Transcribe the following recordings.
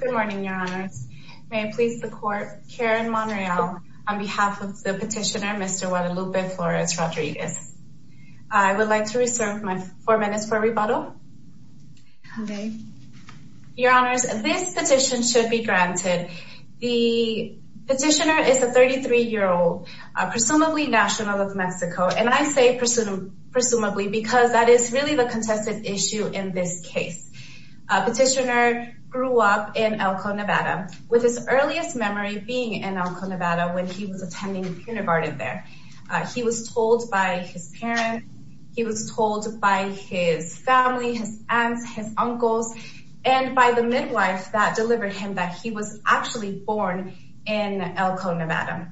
Good morning, Your Honors. May I please support Karen Monreal on behalf of the petitioner, Mr. Guadalupe Flores-Rodriguez. I would like to reserve my four minutes for rebuttal. Okay. Your Honors, this petition should be granted. The petitioner is a 33-year-old, presumably national of Mexico, and I say presumably because that is really the contested issue in this case. Petitioner grew up in Elko, Nevada, with his earliest memory being in Elko, Nevada when he was attending kindergarten there. He was told by his parents, he was told by his family, his aunts, his uncles, and by the midwife that delivered him that he was actually born in Elko, Nevada.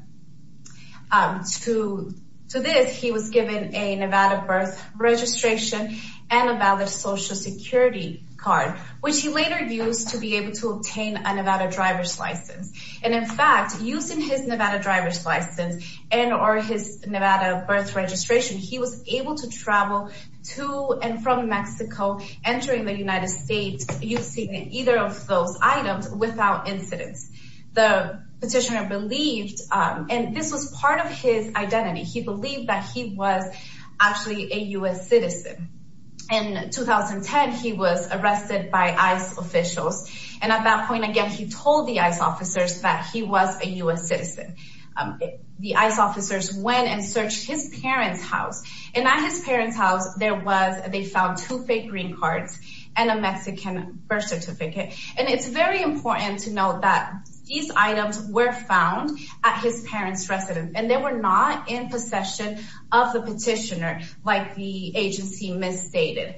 To this, he was given a Nevada birth registration and a valid Social Security card, which he later used to be able to obtain a Nevada driver's license. And in fact, using his Nevada driver's license and or his Nevada birth registration, he was able to travel to and from Mexico, entering the United States, using either of those items without incidents. The petitioner believed, and this was part of his identity, he believed that he was actually a U.S. citizen. In 2010, he was arrested by ICE officials, and at that point, again, he told the ICE officers that he was a U.S. citizen. The ICE officers went and searched his parents' house, and at his parents' house, there was, they found two fake green cards and a Mexican birth certificate. And it's very important to note that these items were found at his parents' residence, and they were not in possession of the petitioner, like the agency misstated.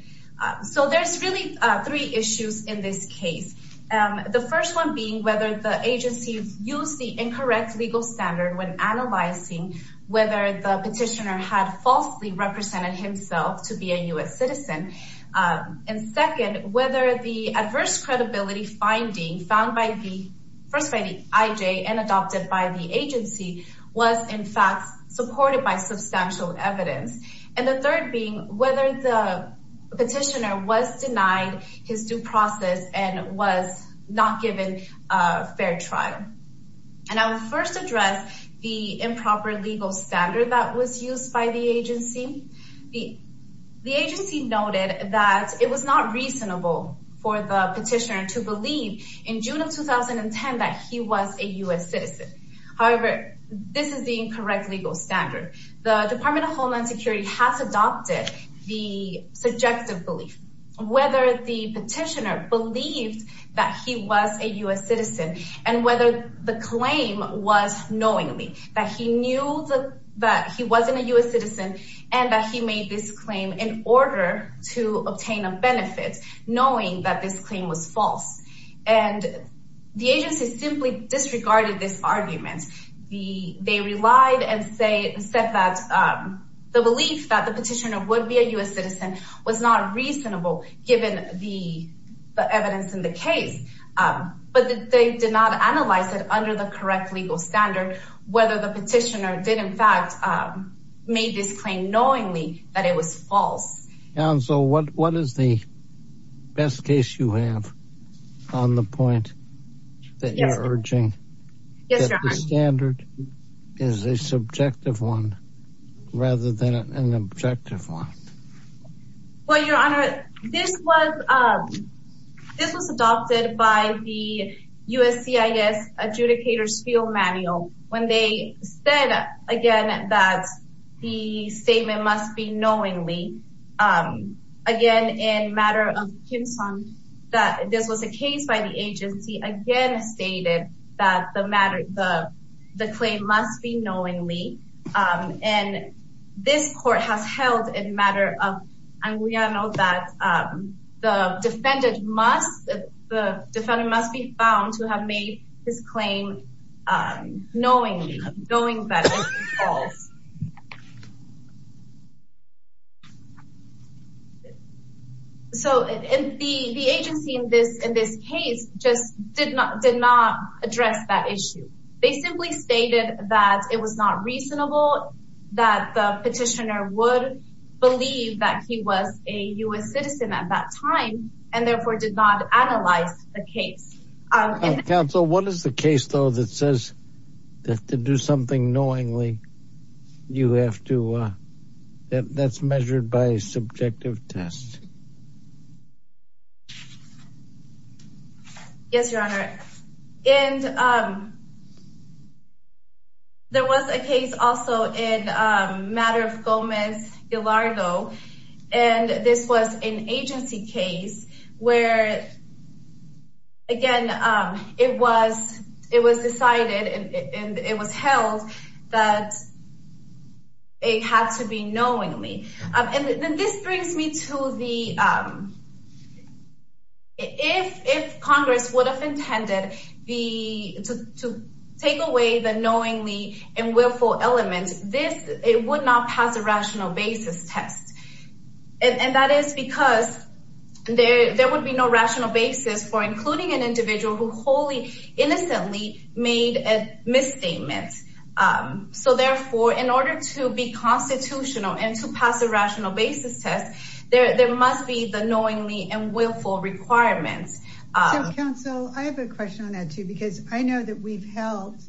So there's really three issues in this case. The first one being whether the agency used the incorrect legal standard when analyzing whether the petitioner had falsely represented himself to be a U.S. citizen. And second, whether the adverse credibility finding found by the, first by the IJ and adopted by the agency, was in fact supported by substantial evidence. And the third being whether the petitioner was denied his due process and was not given a fair trial. And I will first address the improper legal standard that was used by the agency. The agency noted that it was not reasonable for the petitioner to believe in June of 2010 that he was a U.S. citizen. However, this is the incorrect legal standard. The Department of Homeland Security has adopted the subjective belief. Whether the petitioner believed that he was a U.S. citizen and whether the claim was knowingly that he knew that he wasn't a U.S. citizen and that he made this claim in order to obtain a benefit, knowing that this claim was false. And the agency simply disregarded this argument. They relied and said that the belief that the petitioner would be a U.S. citizen was not reasonable given the evidence in the case. But they did not analyze it under the correct legal standard whether the petitioner did in fact made this claim knowingly that it was false. And so what is the best case you have on the point that you're urging? Yes, Your Honor. That the standard is a subjective one rather than an objective one. Well, Your Honor, this was adopted by the USCIS adjudicator's field manual when they said again that the statement must be knowingly. Again, in matter of Kim Sung, this was a case by the agency again stated that the claim must be knowingly. And this court has held in matter of Anguiano that the defendant must be found to have made his claim knowingly, knowing that it was false. So the agency in this case just did not address that issue. They simply stated that it was not reasonable that the petitioner would believe that he was a U.S. citizen at that time and therefore did not analyze the case. Counsel, what is the case, though, that says that to do something knowingly, you have to that's measured by a subjective test? Yes, Your Honor. And there was a case also in matter of Gomez-Gilardo, and this was an agency case where, again, it was decided and it was held that it had to be knowingly. And this brings me to the if Congress would have intended to take away the knowingly and willful elements, this would not pass a rational basis test. And that is because there would be no rational basis for including an individual who wholly innocently made a misstatement. So therefore, in order to be constitutional and to pass a rational basis test, there must be the knowingly and willful requirements. Counsel, I have a question on that, too, because I know that we've held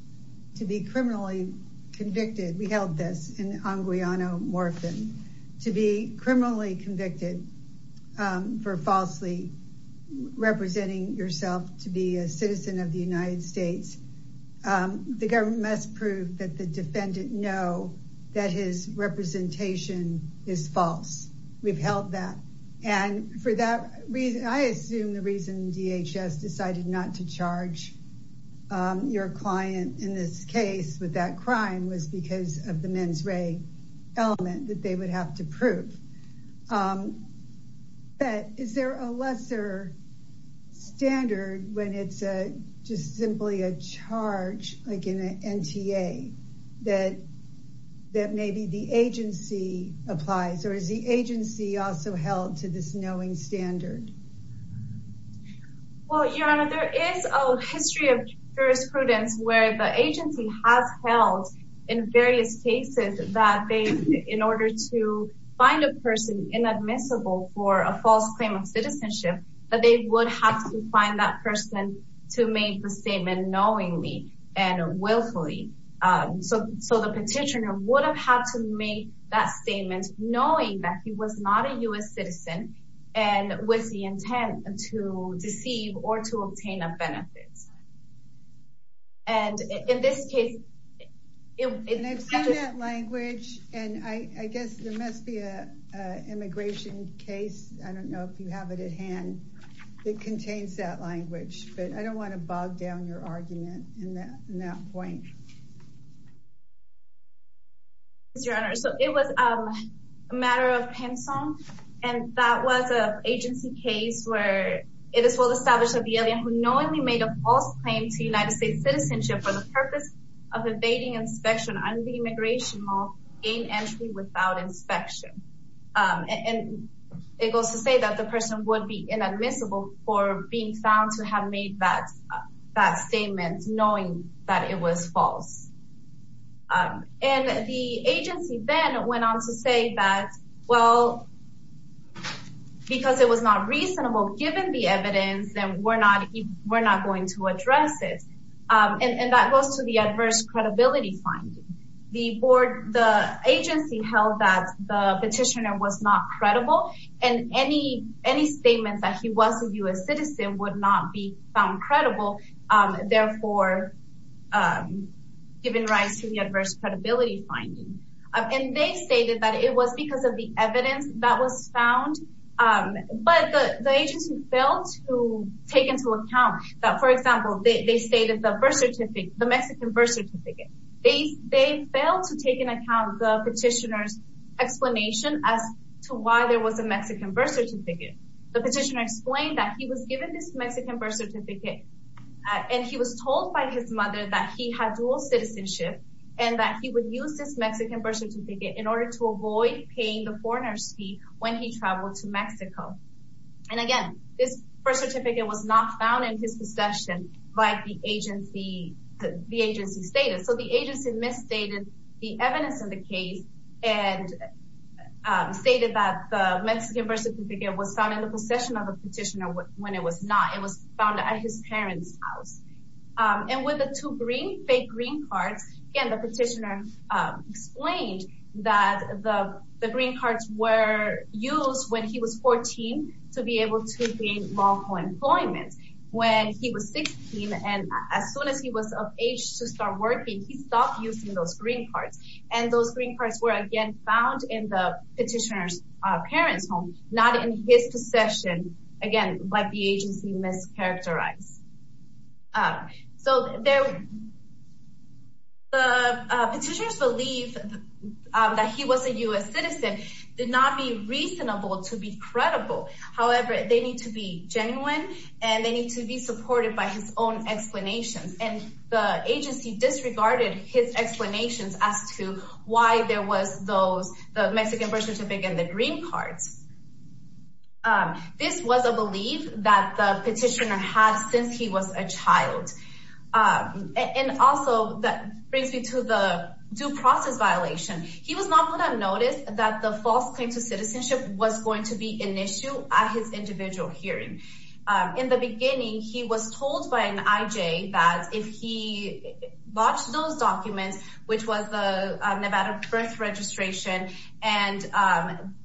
to be criminally convicted. We held this in Anguiano-Morphin to be criminally convicted for falsely representing yourself to be a citizen of the United States. The government must prove that the defendant know that his representation is false. We've held that. And for that reason, I assume the reason DHS decided not to charge your client in this case with that crime was because of the mens re element that they would have to prove. But is there a lesser standard when it's just simply a charge like in an NTA that that maybe the agency applies or is the agency also held to this knowing standard? Well, your honor, there is a history of jurisprudence where the agency has held in various cases that they in order to find a person inadmissible for a false claim of citizenship, that they would have to find that person to make the statement knowingly and willfully. So the petitioner would have had to make that statement knowing that he was not a U.S. citizen and with the intent to deceive or to obtain a benefit. And in this case, it's language and I guess there must be a immigration case. I don't know if you have it at hand. It contains that language, but I don't want to bog down your argument in that point. Your honor, so it was a matter of pension. And that was an agency case where it is well established that the alien who knowingly made a false claim to United States citizenship for the purpose of evading inspection on the immigration law in entry without inspection. And it goes to say that the person would be inadmissible for being found to have made that statement knowing that it was false. And the agency then went on to say that, well, because it was not reasonable given the evidence, then we're not going to address it. And that goes to the adverse credibility finding. The agency held that the petitioner was not credible and any statement that he was a U.S. citizen would not be found credible, therefore, giving rise to the adverse credibility finding. And they stated that it was because of the evidence that was found. But the agency failed to take into account that, for example, they stated the Mexican birth certificate. They failed to take into account the petitioner's explanation as to why there was a Mexican birth certificate. The petitioner explained that he was given this Mexican birth certificate and he was told by his mother that he had dual citizenship and that he would use this Mexican birth certificate in order to avoid paying the foreigner's fee when he traveled to Mexico. And again, this birth certificate was not found in his possession by the agency status. So the agency misstated the evidence in the case and stated that the Mexican birth certificate was found in the possession of the petitioner when it was not. It was found at his parents' house. And with the two green, fake green cards, again, the petitioner explained that the green cards were used when he was 14 to be able to gain lawful employment. When he was 16 and as soon as he was of age to start working, he stopped using those green cards. And those green cards were, again, found in the petitioner's parents' home, not in his possession, again, by the agency mischaracterized. So the petitioner's belief that he was a U.S. citizen did not be reasonable to be credible. However, they need to be genuine and they need to be supported by his own explanations. And the agency disregarded his explanations as to why there was the Mexican birth certificate and the green cards. This was a belief that the petitioner had since he was a child. And also, that brings me to the due process violation. He was not going to notice that the false claim to citizenship was going to be an issue at his individual hearing. In the beginning, he was told by an IJ that if he botched those documents, which was the Nevada birth registration and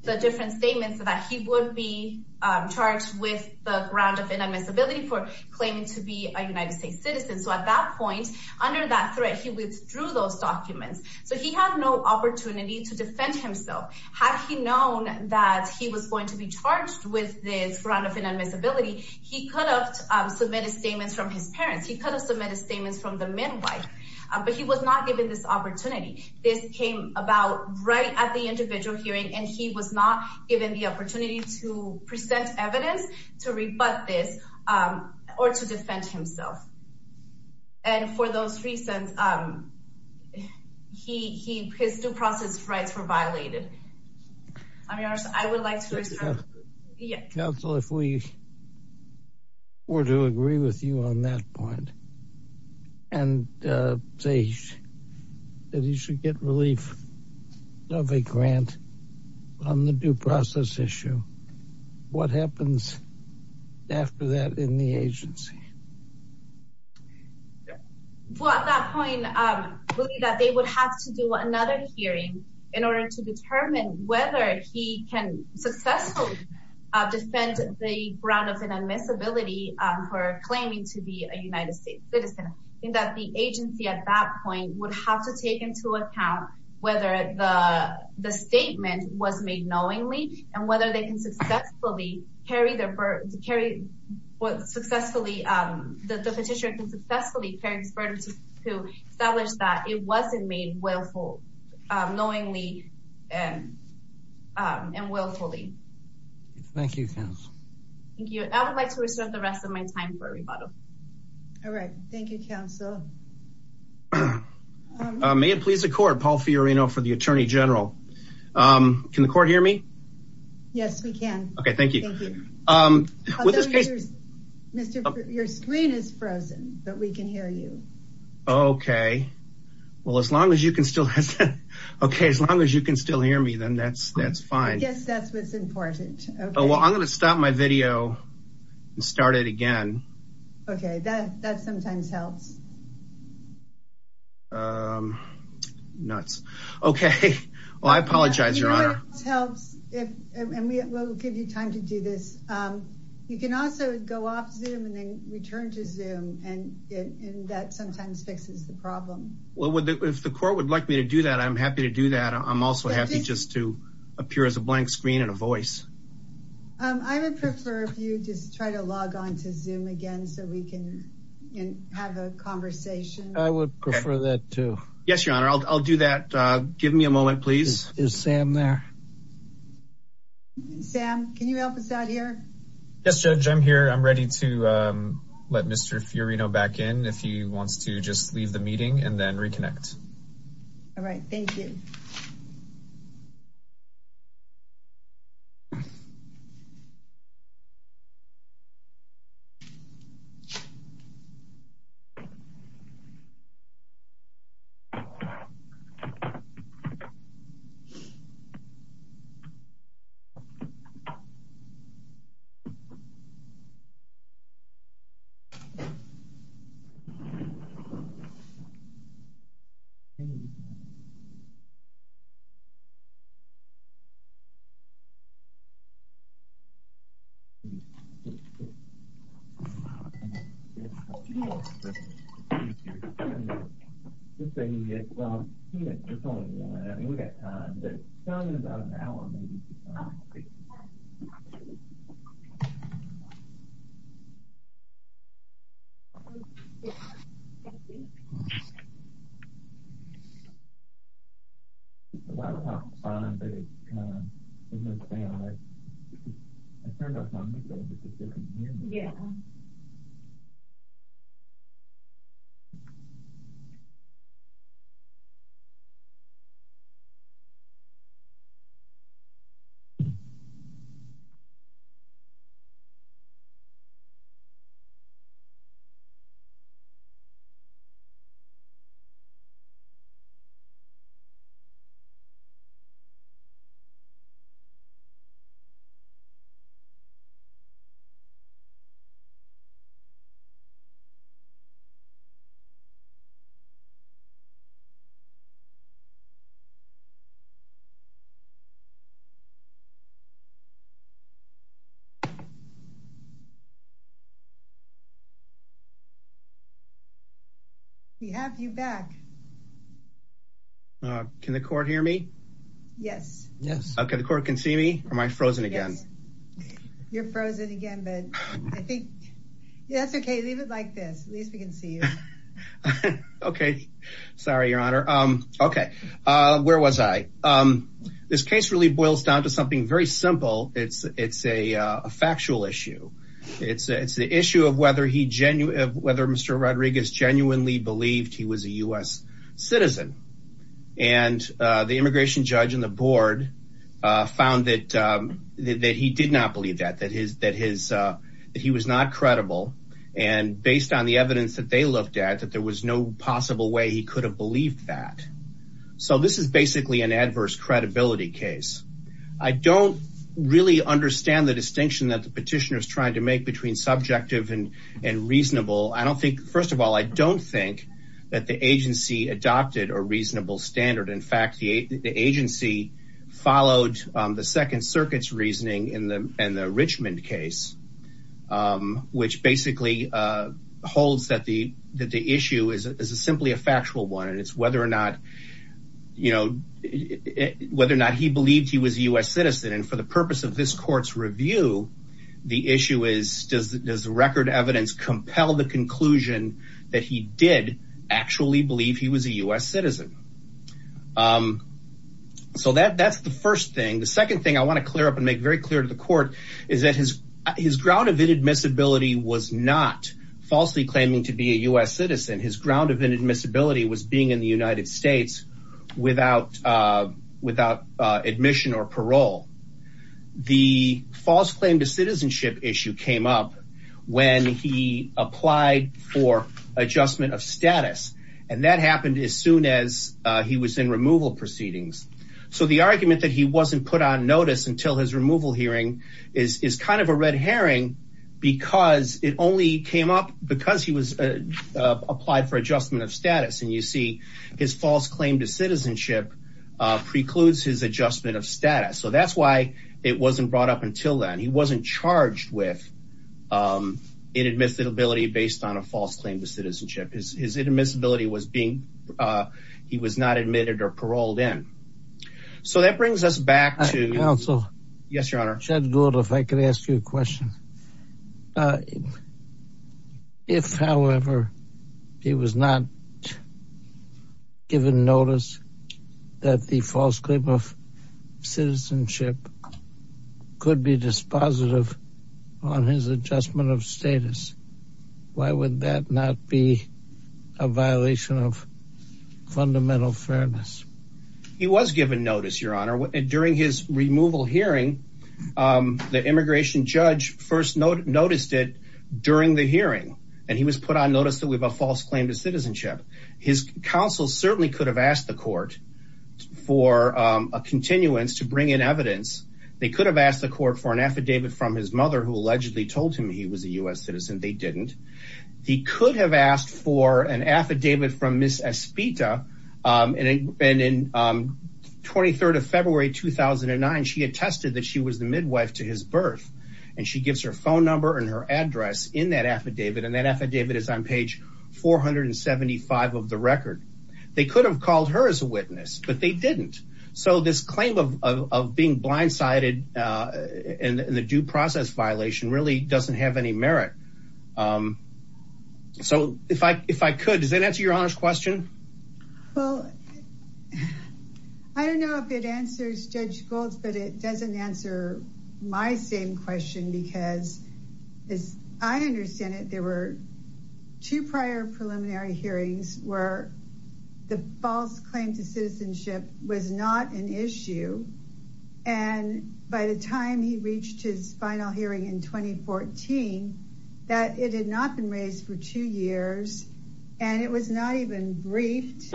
the different statements that he would be charged with the ground of inadmissibility for claiming to be a United States citizen. So at that point, under that threat, he withdrew those documents. So he had no opportunity to defend himself. Had he known that he was going to be charged with this ground of inadmissibility, he could have submitted statements from his parents. He could have submitted statements from the midwife. But he was not given this opportunity. This came about right at the individual hearing, and he was not given the opportunity to present evidence to rebut this or to defend himself. And for those reasons, his due process rights were violated. I mean, I would like to counsel if we were to agree with you on that point and say that he should get relief of a grant on the due process issue. What happens after that in the agency? Well, at that point, I believe that they would have to do another hearing in order to determine whether he can successfully defend the ground of inadmissibility for claiming to be a United States citizen. And that the agency at that point would have to take into account whether the statement was made knowingly and whether they can successfully carry their burden to carry what successfully the petitioner can successfully carry his burden to establish that it wasn't made willfully, knowingly, and willfully. Thank you, counsel. Thank you. I would like to reserve the rest of my time for rebuttal. All right. Thank you, counsel. May it please the court. Paul Fiorino for the attorney general. Can the court hear me? Yes, we can. Okay. Thank you. Your screen is frozen, but we can hear you. Okay. Well, as long as you can still hear me, then that's fine. Yes, that's what's important. I'm going to stop my video and start it again. Okay. That sometimes helps. Nuts. Okay. Well, I apologize, Your Honor. You know what else helps, and we'll give you time to do this. You can also go off Zoom and then return to Zoom, and that sometimes fixes the problem. Well, if the court would like me to do that, I'm happy to do that. I'm also happy just to appear as a blank screen and a voice. I would prefer if you just try to log on to Zoom again so we can have a conversation. I would prefer that, too. Yes, Your Honor. I'll do that. Give me a moment, please. Is Sam there? Sam, can you help us out here? Yes, Judge. I'm here. I'm ready to let Mr. Fiorino back in if he wants to just leave the meeting and then reconnect. All right. Thank you. Thank you. Thank you. Well, we've got time. We've got about an hour. Okay. Thank you. Thank you. It's a lot of fun, but it's kind of, you know, Sam, I turned up on you, but it's a different meeting. Yeah. Thank you. We have you back. Can the court hear me? Yes. Okay. The court can see me? Or am I frozen again? You're frozen again, but I think that's okay. Leave it like this. At least we can see you. Okay. Sorry, Your Honor. Okay. Where was I? This case really boils down to something very simple. It's a factual issue. It's the issue of whether Mr. Rodriguez genuinely believed he was a U.S. citizen. And the immigration judge and the board found that he did not believe that, that he was not credible. And based on the evidence that they looked at, that there was no possible way he could have believed that. So this is basically an adverse credibility case. I don't really understand the distinction that the petitioner is trying to make between subjective and reasonable. First of all, I don't think that the agency adopted a reasonable standard. In fact, the agency followed the Second Circuit's reasoning in the Richmond case, which basically holds that the issue is simply a factual one. And it's whether or not, you know, whether or not he believed he was a U.S. citizen. And for the purpose of this court's review, the issue is, does the record evidence compel the conclusion that he did actually believe he was a U.S. citizen? So that's the first thing. The second thing I want to clear up and make very clear to the court is that his ground of inadmissibility was not falsely claiming to be a U.S. citizen. His ground of inadmissibility was being in the United States without admission or parole. The false claim to citizenship issue came up when he applied for adjustment of status. And that happened as soon as he was in removal proceedings. So the argument that he wasn't put on notice until his removal hearing is kind of a red herring because it only came up because he was applied for adjustment of status. And you see his false claim to citizenship precludes his adjustment of status. So that's why it wasn't brought up until then. He wasn't charged with inadmissibility based on a false claim to citizenship. His inadmissibility was being, he was not admitted or paroled in. So that brings us back to... Judge Edgwood, if I could ask you a question. If, however, he was not given notice that the false claim of citizenship could be dispositive on his adjustment of status, why would that not be a violation of fundamental fairness? He was given notice, Your Honor. During his removal hearing, the immigration judge first noticed it during the hearing. And he was put on notice that we have a false claim to citizenship. His counsel certainly could have asked the court for a continuance to bring in evidence. They could have asked the court for an affidavit from his mother who allegedly told him he was a U.S. citizen. They didn't. He could have asked for an affidavit from Ms. Espita. And in 23rd of February 2009, she attested that she was the midwife to his birth. And she gives her phone number and her address in that affidavit. And that affidavit is on page 475 of the record. They could have called her as a witness, but they didn't. So this claim of being blindsided in the due process violation really doesn't have any merit. So if I could, does that answer your honest question? Well, I don't know if it answers Judge Gold's, but it doesn't answer my same question. Because as I understand it, there were two prior preliminary hearings where the false claim to citizenship was not an issue. And by the time he reached his final hearing in 2014, that it had not been raised for two years. And it was not even briefed.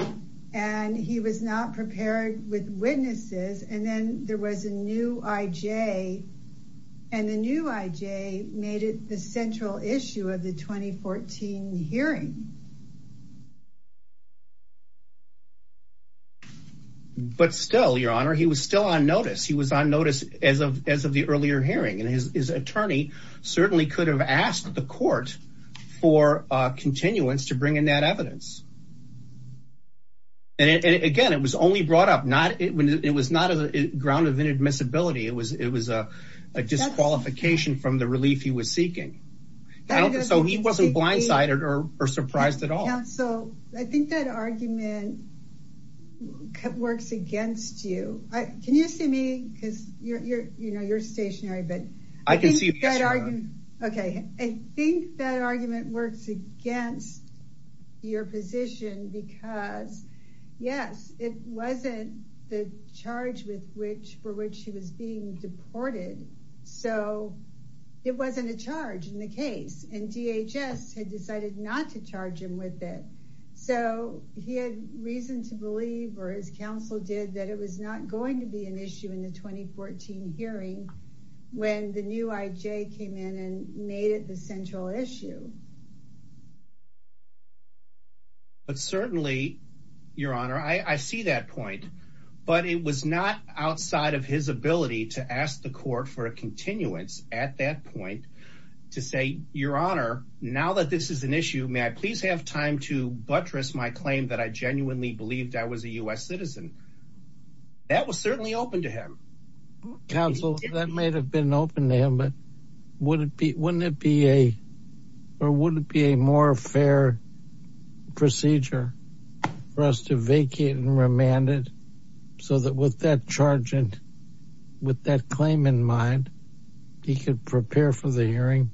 And he was not prepared with witnesses. And then there was a new I.J. And the new I.J. made it the central issue of the 2014 hearing. But still, Your Honor, he was still on notice. He was on notice as of the earlier hearing. And his attorney certainly could have asked the court for continuance to bring in that evidence. And again, it was only brought up. It was not a ground of inadmissibility. It was a disqualification from the relief he was seeking. So he wasn't blindsided or surprised at all. So I think that argument works against you. Can you see me? Because you're stationary. I can see you. I think that argument works against your position. Because, yes, it wasn't the charge for which he was being deported. So it wasn't a charge in the case. And DHS had decided not to charge him with it. So he had reason to believe, or his counsel did, that it was not going to be an issue in the 2014 hearing when the new I.J. came in and made it the central issue. But certainly, Your Honor, I see that point. But it was not outside of his ability to ask the court for a continuance at that point to say, Your Honor, now that this is an issue, may I please have time to buttress my claim that I genuinely believed I was a U.S. citizen? That was certainly open to him. Counsel, that may have been open to him, but wouldn't it be a more fair procedure for us to vacate and remand it so that with that charge and with that claim in mind, he could prepare for the hearing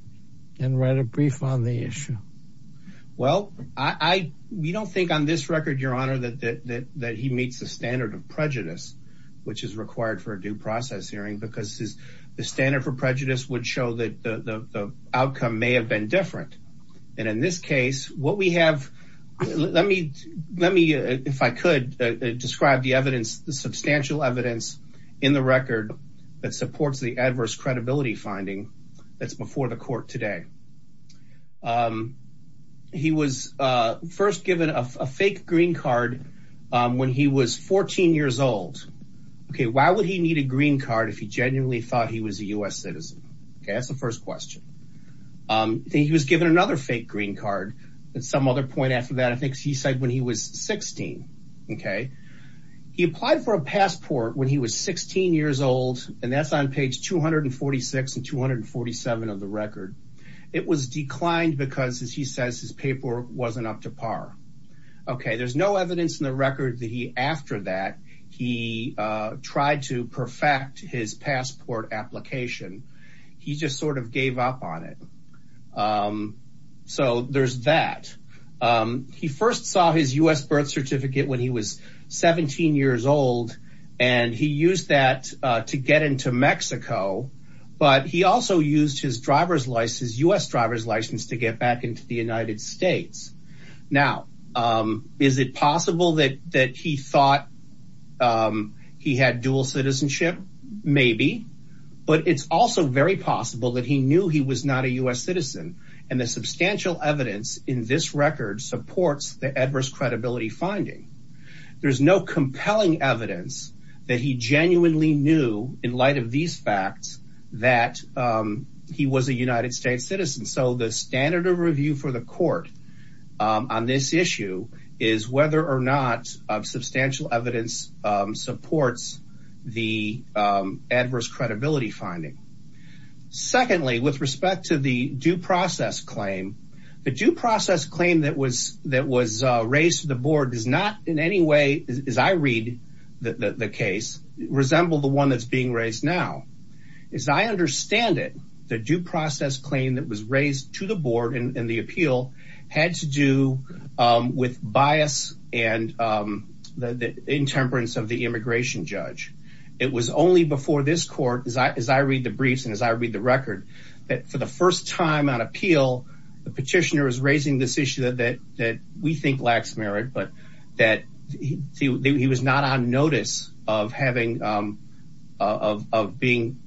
and write a brief on the issue? Well, we don't think on this record, Your Honor, that he meets the standard of prejudice which is required for a due process hearing because the standard for prejudice would show that the outcome may have been different. And in this case, what we have, let me, if I could, describe the evidence, the substantial evidence in the record that supports the adverse credibility finding that's before the court today. He was first given a fake green card when he was 14 years old. Why would he need a green card if he genuinely thought he was a U.S. citizen? That's the first question. He was given another fake green card at some other point after that, I think he said when he was 16. He applied for a passport when he was 16 years old and that's on page 246 and 247 of the record. It was declined because, as he says, his paper wasn't up to par. Okay, there's no evidence in the record that he, after that, he tried to perfect his passport application. He just sort of gave up on it. So there's that. He first saw his U.S. birth certificate when he was 17 years old and he used that to get into Mexico, but he also used his driver's license, his U.S. driver's license to get back into the United States. Now, is it possible that he thought he had dual citizenship? Maybe, but it's also very possible that he knew he was not a U.S. citizen and the substantial evidence in this record supports the adverse credibility finding. There's no compelling evidence that he genuinely knew, in light of these facts, that he was a United States citizen. So the standard of review for the court on this issue is whether or not substantial evidence supports the adverse credibility finding. Secondly, with respect to the due process claim, the due process claim that was raised to the board does not in any way, as I read the case, resemble the one that's being raised now. As I understand it, the due process claim that was raised to the board in the appeal had to do with bias and the intemperance of the immigration judge. It was only before this court, as I read the briefs and as I read the record, that for the first time on appeal, the petitioner is raising this issue that we think lacks merit, but that he was not on notice of being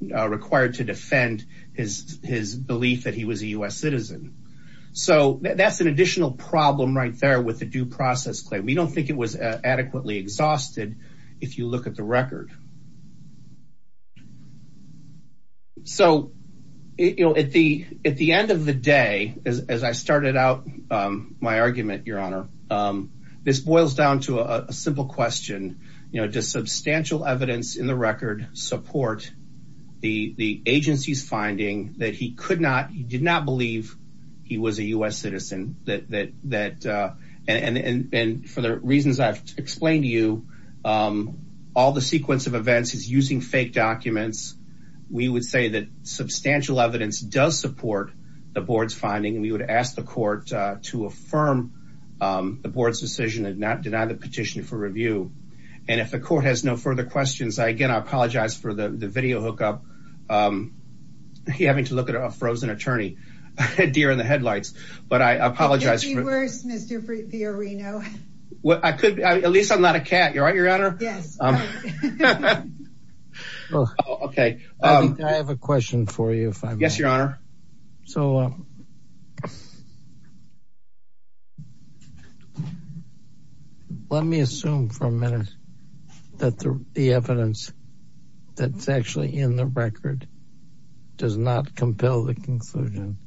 required to defend his belief that he was a U.S. citizen. So that's an additional problem right there with the due process claim. We don't think it was adequately exhausted if you look at the record. So at the end of the day, as I started out my argument, Your Honor, this boils down to a simple question. Does substantial evidence in the record support the agency's finding that he did not believe he was a U.S. citizen? And for the reasons I've explained to you, all the sequence of events is using fake documents. We would say that substantial evidence does support the board's finding, and we would ask the court to affirm the board's decision and not deny the petition for review. And if the court has no further questions, again, I apologize for the video hookup. You're having to look at a frozen attorney. A deer in the headlights. But I apologize. It could be worse, Mr. Fiorino. At least I'm not a cat. You all right, Your Honor? Yes. Okay. I have a question for you. Yes, Your Honor. So, let me assume for a minute that the evidence that's actually in the record does not compel the conclusion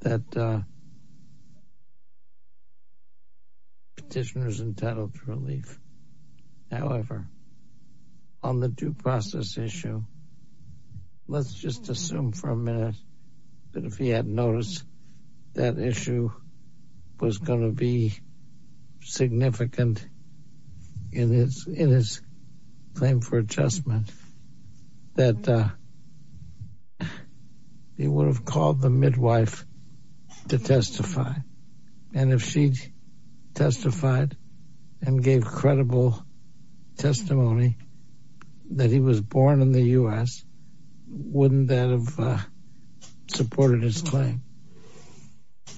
that the petitioner is entitled to relief. on the due process issue, let's just assume for a minute that if he had noticed that issue was going to be significant in his claim for adjustment that he would have called the midwife to testify. And if she testified and gave credible testimony that he was born in the U.S., wouldn't that have supported his claim?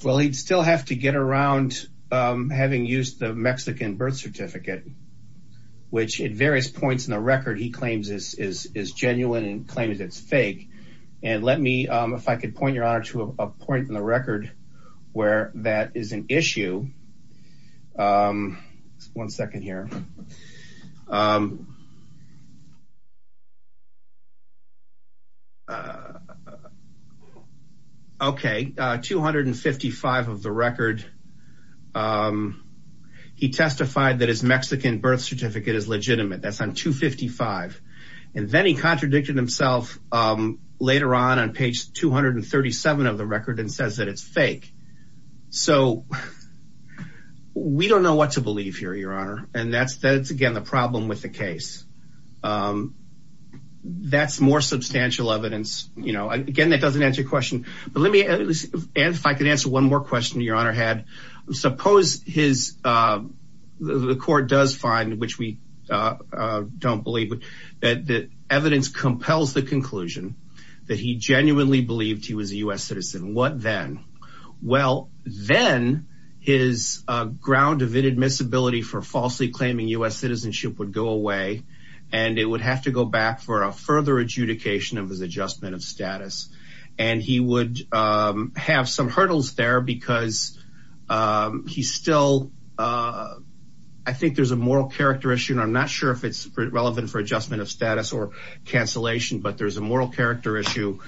Well, he'd still have to get around having used the Mexican birth certificate, which at various points in the record he claims is genuine and claims it's fake. And let me, if I could point, Your Honor, to a point in the record where that is an issue. One second here. Okay. 255 of the record. He testified that his Mexican birth certificate is legitimate. That's on 255. And then he contradicted himself later on on page 237 of the record and says that it's fake. So we don't know what to believe here, Your Honor. And that's, again, the problem with the case. That's more substantial evidence you know, again, that doesn't answer your question. But let me, if I could answer one more question Your Honor had. Suppose his, the court does find, which we don't believe, that the evidence compels the conclusion that he genuinely believed he was a U.S. citizen. What then? Well, then his ground of inadmissibility for falsely claiming U.S. citizenship would go away and it would have to go back for a further adjudication of his adjustment of status. And he would have some hurdles there because he still, I think there's a moral character issue, and I'm not sure if it's relevant for adjustment of status or cancellation, but there's a moral character issue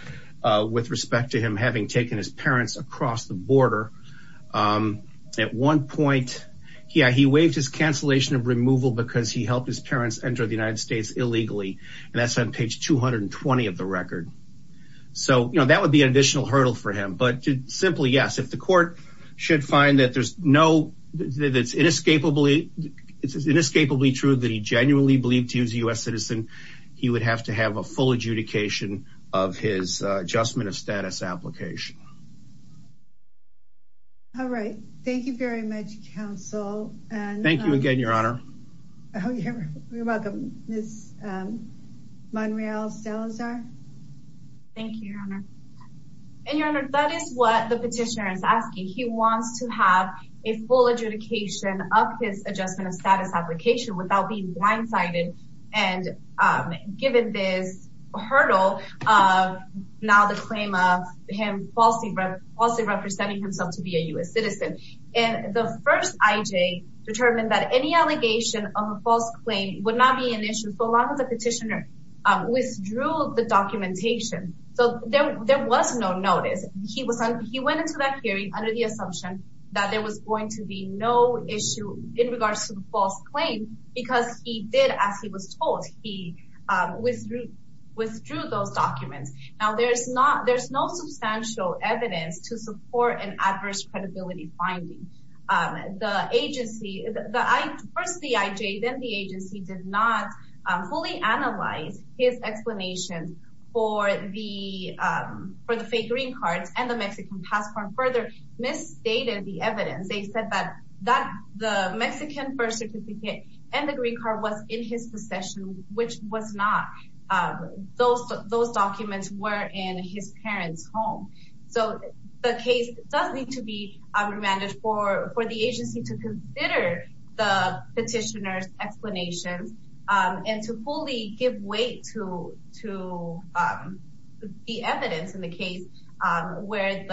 with respect to him having taken his parents across the border. At one point, yeah, he waived his cancellation of removal because he helped his parents enter the United States illegally. And that's on page 220 of the record. So, you know, that would be an additional hurdle for him. But simply, yes, if the court should find that there's no, that it's inescapably, it's inescapably true that he genuinely believed he was a U.S. citizen, he would have to have a full adjudication of his adjustment of status application. All right. Thank you very much, Counsel. Thank you again, Your Honor. You're welcome. Monreal Salazar. Thank you, Your Honor. And, Your Honor, that is what the petitioner is asking. He wants to have a full adjudication of his adjustment of status application without being blindsided and given this hurdle of now the claim of him falsely representing himself to be a U.S. citizen. And the first IJ determined that any allegation of a false claim would not be an issue unless the petitioner withdrew the documentation. So there was no notice. He went into that hearing under the assumption that there was going to be no issue in regards to the false claim because he did, as he was told, he withdrew those documents. Now, there's no substantial evidence to support an adverse credibility finding. The agency, first the IJ, then the agency did not fully analyze his explanation for the fake green cards and the Mexican passport. Further, misstated the evidence. They said that the Mexican birth certificate and the green card was in his possession, which was not. Those documents were in his parents' home. So the case does need to be remanded for the agency to consider the petitioner's explanations and to fully give weight to the evidence in the case where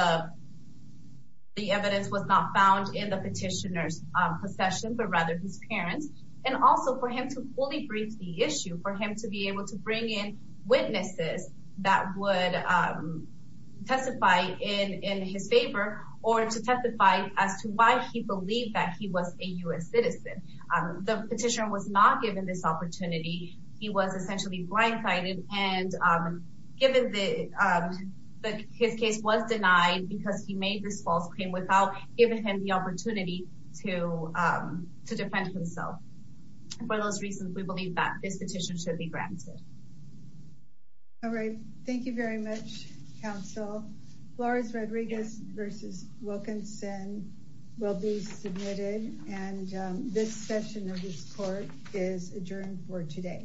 the evidence was not found in the petitioner's possession, but rather his parents. And also for him to fully brief the issue, for him to be able to bring in witnesses that would testify in his favor or to testify as to why he believed that he was a U.S. citizen. The petitioner was not given this opportunity. He was essentially blindsided and given that his case was denied because he made this false claim without giving him the opportunity to defend himself. For those reasons, we believe that this petition should be granted. All right. Thank you very much, counsel. Flores Rodriguez versus Wilkinson will be submitted. And this session of this court is adjourned for today.